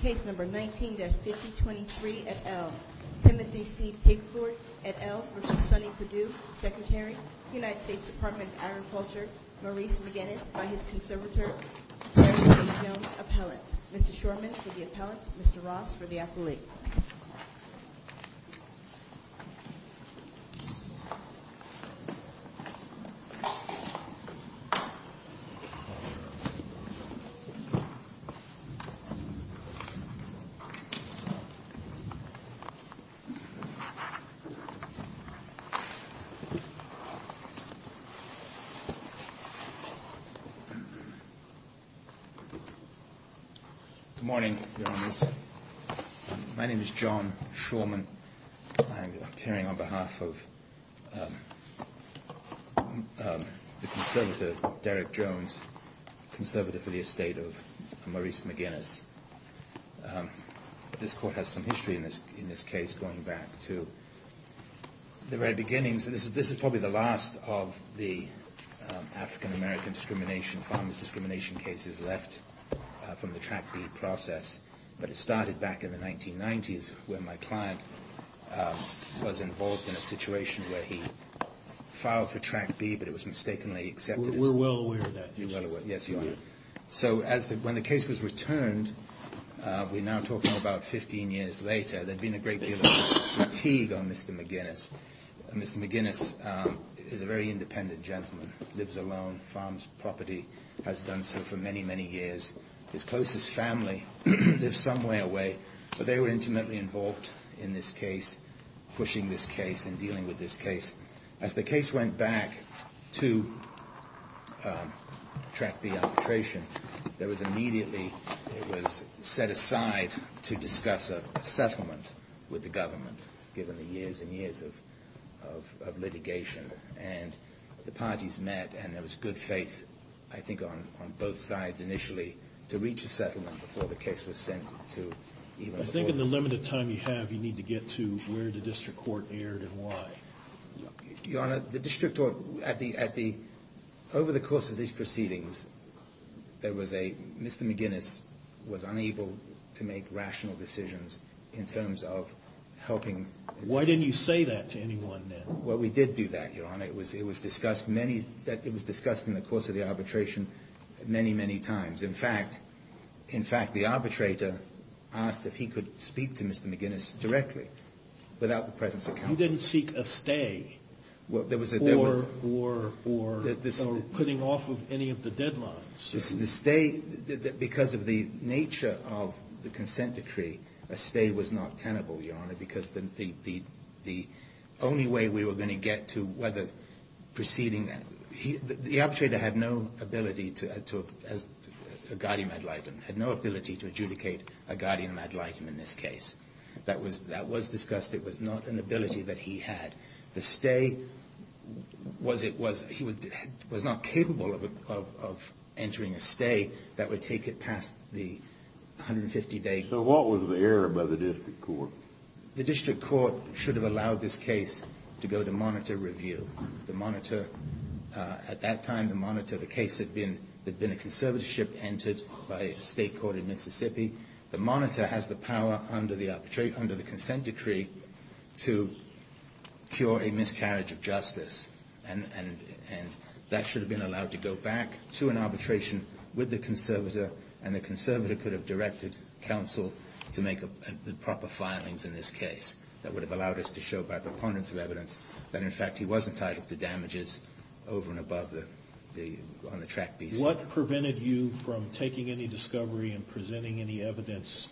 Case number 19-5023 et al., Timothy C. Pigford et al. v. Sonny Perdue, Secretary, United States Department of Agriculture, Maurice McGinnis, by his conservator, Harrison Jones, appellate. Mr. Shorman for the appellate, Mr. Ross for the athlete. Good morning, Your Honours. My name is John Shorman. I am appearing on behalf of the conservator, Derek Jones, conservative for the estate of Maurice McGinnis. This court has some history in this case going back to the very beginnings. This is probably the last of the African-American discrimination, farmers discrimination cases left from the Track B process. But it started back in the 1990s when my client was involved in a situation where he filed for Track B, but it was mistakenly accepted. We're well aware of that. Yes, you are. So when the case was returned, we're now talking about 15 years later, there'd been a great deal of fatigue on Mr. McGinnis. Mr. McGinnis is a very independent gentleman, lives alone, farms property, has done so for many, many years. His closest family lives somewhere away, but they were intimately involved in this case, pushing this case and dealing with this case. As the case went back to Track B arbitration, there was immediately, it was set aside to discuss a settlement with the government, given the years and years of litigation. And the parties met and there was good faith, I think, on both sides initially to reach a settlement before the case was sent to even the court. I think in the limited time you have, you need to get to where the district court erred and why. Your Honor, the district court, over the course of these proceedings, there was a, Mr. McGinnis was unable to make rational decisions in terms of helping. Why didn't you say that to anyone then? Well, we did do that, Your Honor. It was discussed in the course of the arbitration many, many times. In fact, the arbitrator asked if he could speak to Mr. McGinnis directly without the presence of counsel. You didn't seek a stay or putting off of any of the deadlines? The stay, because of the nature of the consent decree, a stay was not tenable, Your Honor, because the only way we were going to get to whether proceeding, the arbitrator had no ability to, a guardian ad litem, had no ability to adjudicate a guardian ad litem in this case. That was discussed. It was not an ability that he had. The stay, he was not capable of entering a stay that would take it past the 150-day period. So what was the error by the district court? The district court should have allowed this case to go to monitor review. The monitor, at that time, the case had been a conservatorship entered by a state court in Mississippi. The monitor has the power under the consent decree to cure a miscarriage of justice, and that should have been allowed to go back to an arbitration with the conservator, and the conservator could have directed counsel to make the proper filings in this case. That would have allowed us to show by preponderance of evidence that, in fact, he was entitled to damages over and above the track fees. What prevented you from taking any discovery and presenting any evidence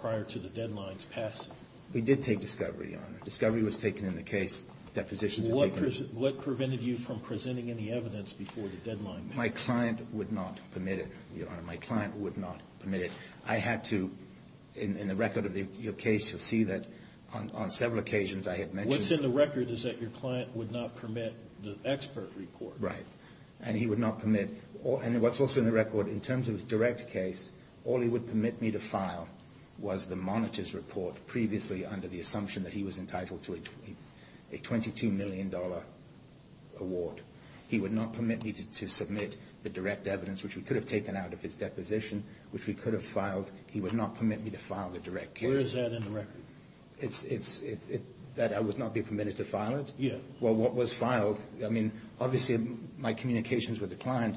prior to the deadline's passing? We did take discovery, Your Honor. Discovery was taken in the case. Deposition was taken in the case. What prevented you from presenting any evidence before the deadline? My client would not permit it, Your Honor. My client would not permit it. I had to, in the record of your case, you'll see that on several occasions I had mentioned What's in the record is that your client would not permit the expert report. Right. And he would not permit. And what's also in the record, in terms of his direct case, all he would permit me to file was the monitor's report previously under the assumption that he was entitled to a $22 million award. He would not permit me to submit the direct evidence, which we could have taken out of his deposition, which we could have filed. He would not permit me to file the direct case. Where is that in the record? That I would not be permitted to file it? Yeah. Well, what was filed, I mean, obviously my communications with the client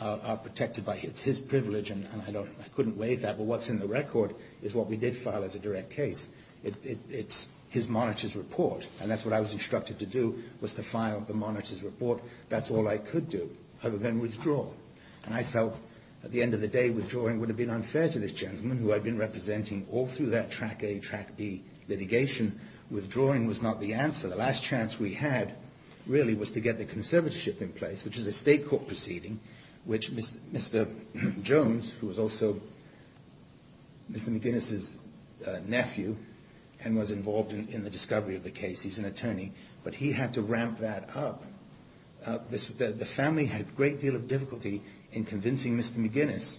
are protected by his privilege, and I couldn't waive that, but what's in the record is what we did file as a direct case. It's his monitor's report, and that's what I was instructed to do was to file the monitor's report. That's all I could do other than withdraw. And I felt at the end of the day withdrawing would have been unfair to this gentleman who I'd been representing all through that Track A, Track B litigation. Withdrawing was not the answer. The last chance we had really was to get the conservatorship in place, which is a state court proceeding, which Mr. Jones, who was also Mr. McGinnis' nephew and was involved in the discovery of the case, he's an attorney, but he had to ramp that up. The family had a great deal of difficulty in convincing Mr. McGinnis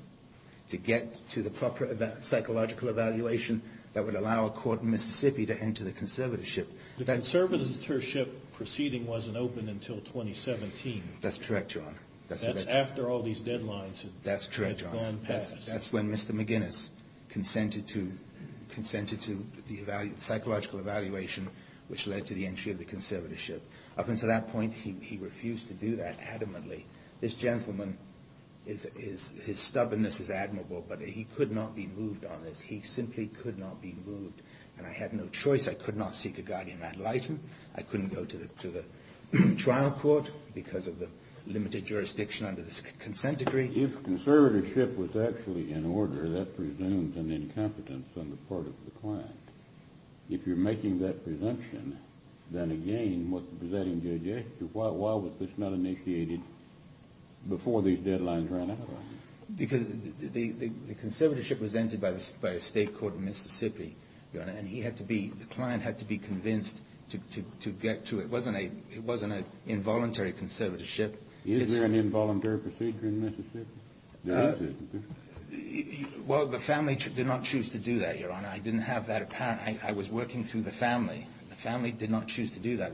to get to the proper psychological evaluation that would allow a court in Mississippi to enter the conservatorship. The conservatorship proceeding wasn't open until 2017. That's correct, Your Honor. That's after all these deadlines had gone past. That's correct, Your Honor. That's when Mr. McGinnis consented to the psychological evaluation, which led to the entry of the conservatorship. Up until that point, he refused to do that adamantly. This gentleman, his stubbornness is admirable, but he could not be moved on this. He simply could not be moved, and I had no choice. I could not seek a guardian ad litem. I couldn't go to the trial court because of the limited jurisdiction under this consent decree. If conservatorship was actually in order, that presumes an incompetence on the part of the client. If you're making that presumption, then again, what the presiding judge asked you, why was this not initiated before these deadlines ran out? Because the conservatorship was entered by a state court in Mississippi, Your Honor, and the client had to be convinced to get to it. It wasn't an involuntary conservatorship. Is there an involuntary procedure in Mississippi? No. Well, the family did not choose to do that, Your Honor. I didn't have that apparent. I was working through the family. The family did not choose to do that.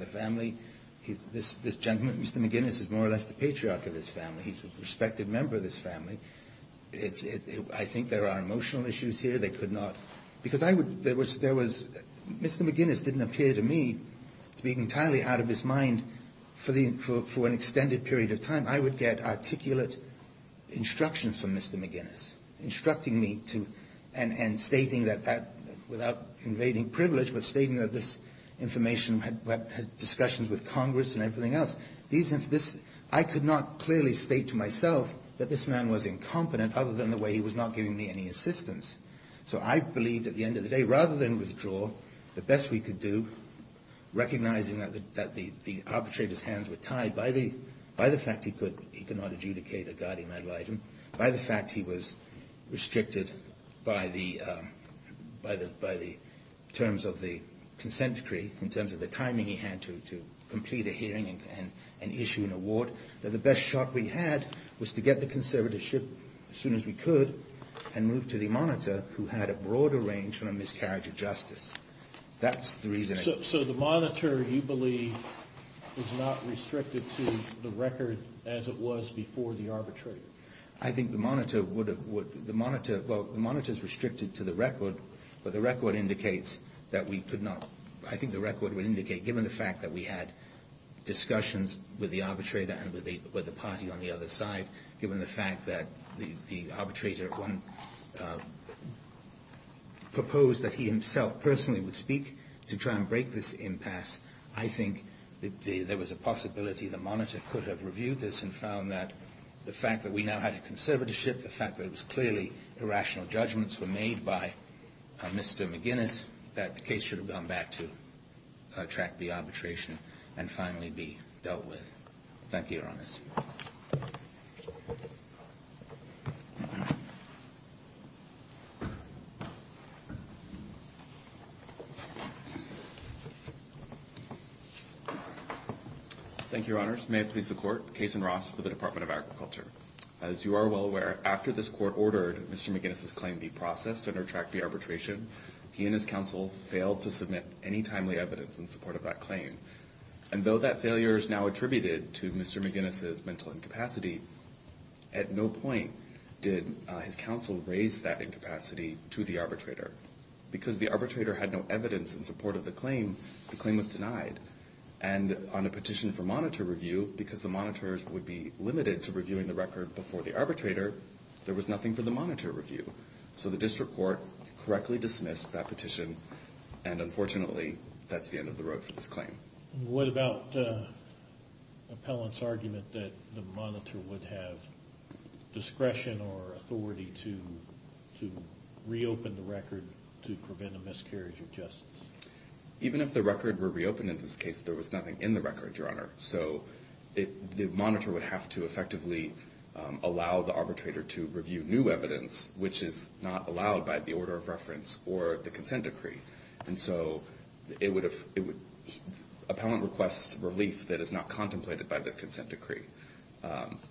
This gentleman, Mr. McGinnis, is more or less the patriarch of this family. He's a respected member of this family. I think there are emotional issues here. They could not. Because I would Mr. McGinnis didn't appear to me to be entirely out of his mind for an extended period of time. I would get articulate instructions from Mr. McGinnis, instructing me to and stating that that, without invading privilege, but stating that this information had discussions with Congress and everything else. I could not clearly state to myself that this man was incompetent other than the way he was not giving me any assistance. So I believed at the end of the day, rather than withdraw, the best we could do recognizing that the arbitrators' hands were tied by the fact he could not adjudicate a guardian ad litem, by the fact he was restricted by the terms of the consent decree, in terms of the timing he had to complete a hearing and issue an award, that the best shot we had was to get the conservatorship as soon as we could and move to the monitor who had a broader range from a miscarriage of justice. That's the reason. So the monitor, you believe, is not restricted to the record as it was before the arbitrator? I think the monitor would have, well, the monitor is restricted to the record, but the record indicates that we could not, I think the record would indicate, given the fact that we had discussions with the arbitrator and with the party on the other side, given the fact that the arbitrator proposed that he himself personally would speak to try and break this impasse, I think there was a possibility the monitor could have reviewed this and found that the fact that we now had a conservatorship, the fact that it was clearly irrational judgments were made by Mr. McGinnis, that the case should have gone back to Track B arbitration and finally be dealt with. Thank you, Your Honors. Thank you, Your Honors. May it please the Court, Case and Ross for the Department of Agriculture. As you are well aware, after this Court ordered Mr. McGinnis' claim be processed under Track B arbitration, he and his counsel failed to submit any timely evidence in support of that claim. And though that failure is now attributed to Mr. McGinnis' mental incapacity, at no point did his counsel raise that incapacity to the arbitrator. Because the arbitrator had no evidence in support of the claim, the claim was denied. And on a petition for monitor review, because the monitors would be limited to reviewing the record before the arbitrator, there was nothing for the monitor review. So the district court correctly dismissed that petition, and unfortunately that's the end of the road for this claim. What about the appellant's argument that the monitor would have discretion or authority to reopen the record to prevent a miscarriage of justice? Even if the record were reopened in this case, there was nothing in the record, Your Honor. So the monitor would have to effectively allow the arbitrator to review new evidence, which is not allowed by the order of reference or the consent decree. And so appellant requests relief that is not contemplated by the consent decree.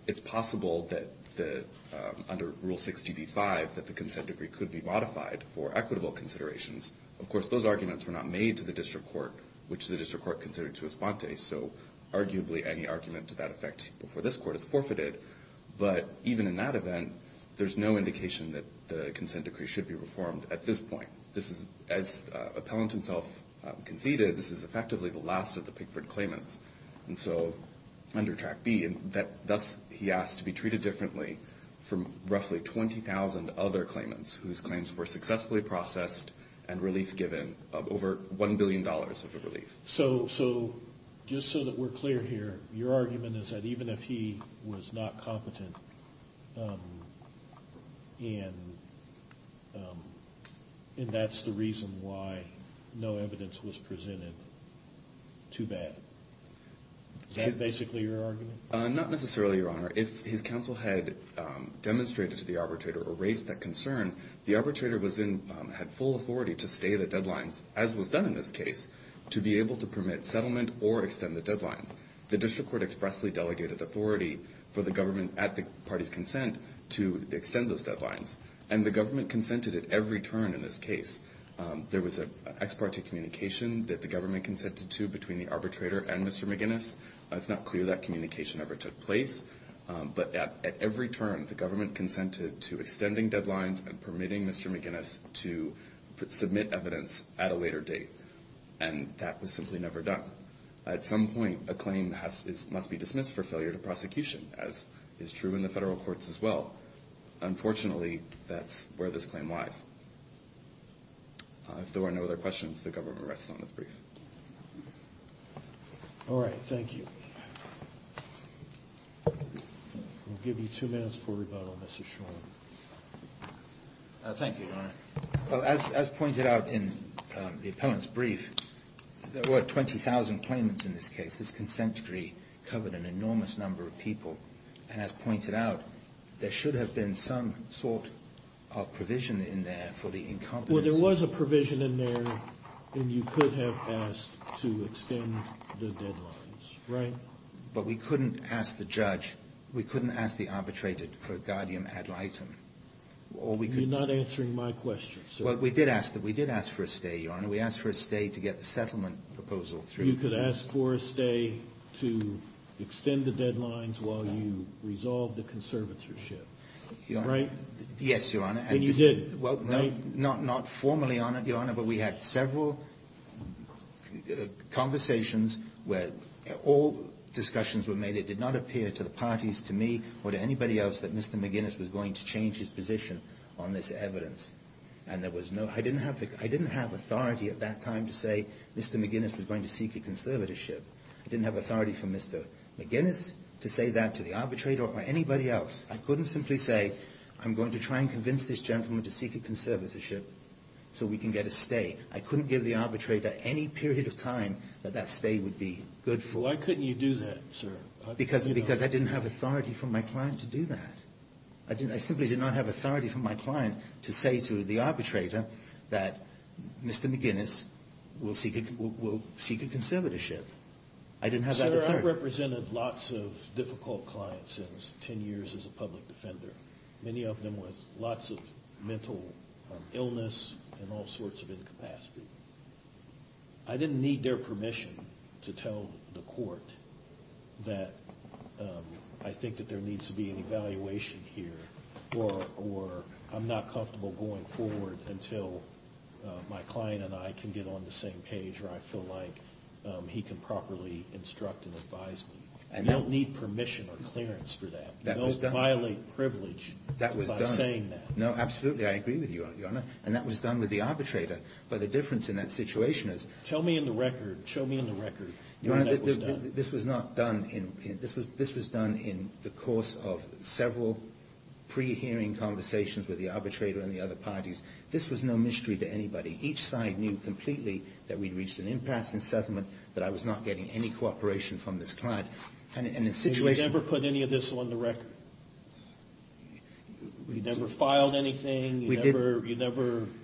It's possible that under Rule 60b-5 that the consent decree could be modified for equitable considerations. Of course, those arguments were not made to the district court, which the district court considered to respond to. So arguably any argument to that effect before this court is forfeited. But even in that event, there's no indication that the consent decree should be reformed at this point. As appellant himself conceded, this is effectively the last of the Pickford claimants. And so under Track B, thus he asked to be treated differently from roughly 20,000 other claimants whose claims were successfully processed and relief given of over $1 billion of relief. So just so that we're clear here, your argument is that even if he was not competent, and that's the reason why no evidence was presented, too bad. Is that basically your argument? Not necessarily, Your Honor. If his counsel had demonstrated to the arbitrator or raised that concern, the arbitrator had full authority to stay the deadlines, as was done in this case, to be able to permit settlement or extend the deadlines. The district court expressly delegated authority for the government at the party's consent to extend those deadlines. And the government consented at every turn in this case. There was an ex parte communication that the government consented to between the arbitrator and Mr. McGinnis. It's not clear that communication ever took place. But at every turn, the government consented to extending deadlines and permitting Mr. McGinnis to submit evidence at a later date. And that was simply never done. At some point, a claim must be dismissed for failure to prosecution, as is true in the federal courts as well. Unfortunately, that's where this claim lies. If there are no other questions, the government rests on its brief. All right. Thank you. I'll give you two minutes for rebuttal, Mr. Shorland. Thank you, Your Honor. As pointed out in the appellant's brief, there were 20,000 claimants in this case. This consent decree covered an enormous number of people. And as pointed out, there should have been some sort of provision in there for the incompetence. Well, there was a provision in there. And you could have asked to extend the deadlines, right? But we couldn't ask the judge. We couldn't ask the arbitrator for a guardian ad litem. You're not answering my question, sir. Well, we did ask for a stay, Your Honor. We asked for a stay to get the settlement proposal through. You could ask for a stay to extend the deadlines while you resolve the conservatorship, right? Yes, Your Honor. And you did, right? Not formally, Your Honor, but we had several conversations where all discussions were made. It did not appear to the parties, to me, or to anybody else, that Mr. McGinnis was going to change his position on this evidence. And there was no – I didn't have authority at that time to say Mr. McGinnis was going to seek a conservatorship. I didn't have authority for Mr. McGinnis to say that to the arbitrator or anybody else. I couldn't simply say, I'm going to try and convince this gentleman to seek a conservatorship so we can get a stay. I couldn't give the arbitrator any period of time that that stay would be good for. Why couldn't you do that, sir? Because I didn't have authority from my client to do that. I simply did not have authority from my client to say to the arbitrator that Mr. McGinnis will seek a conservatorship. I didn't have that authority. I represented lots of difficult clients in 10 years as a public defender, many of them with lots of mental illness and all sorts of incapacity. I didn't need their permission to tell the court that I think that there needs to be an evaluation here or I'm not comfortable going forward until my client and I can get on the same page where I feel like he can properly instruct and advise me. You don't need permission or clearance for that. That was done. Don't violate privilege by saying that. No, absolutely, I agree with you, Your Honor. And that was done with the arbitrator, but the difference in that situation is – Tell me in the record, show me in the record when that was done. This was not done in – this was done in the course of several pre-hearing conversations with the arbitrator and the other parties. This was no mystery to anybody. Each side knew completely that we'd reached an impasse in settlement, that I was not getting any cooperation from this client. And the situation – You never put any of this on the record? You never filed anything? We did – You never –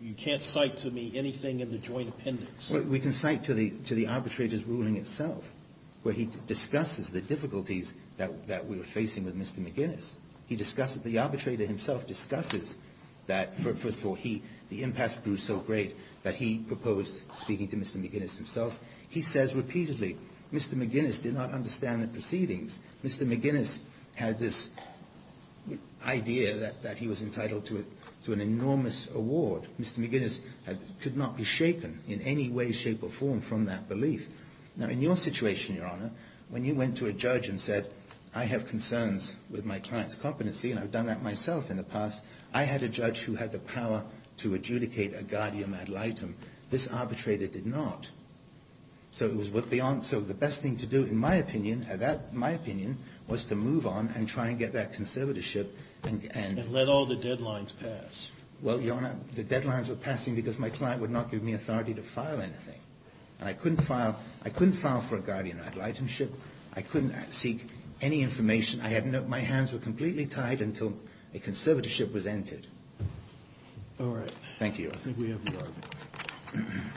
you can't cite to me anything in the joint appendix? We can cite to the arbitrator's ruling itself, where he discusses the difficulties that we were facing with Mr. McGinnis. He discusses – the arbitrator himself discusses that, first of all, he – the impasse grew so great that he proposed speaking to Mr. McGinnis himself. He says repeatedly, Mr. McGinnis did not understand the proceedings. Mr. McGinnis had this idea that he was entitled to an enormous award. Mr. McGinnis could not be shaken in any way, shape, or form from that belief. Now, in your situation, Your Honor, when you went to a judge and said, I have concerns with my client's competency, and I've done that myself in the past, I had a judge who had the power to adjudicate a guardium ad litem. This arbitrator did not. So it was – so the best thing to do, in my opinion – my opinion was to move on and try and get that conservatorship and – And let all the deadlines pass. Well, Your Honor, the deadlines were passing because my client would not give me authority to file anything. And I couldn't file – I couldn't file for a guardium ad litemship. I couldn't seek any information. I had no – my hands were completely tied until a conservatorship was entered. All right. Thank you, Your Honor. I think we have the argument.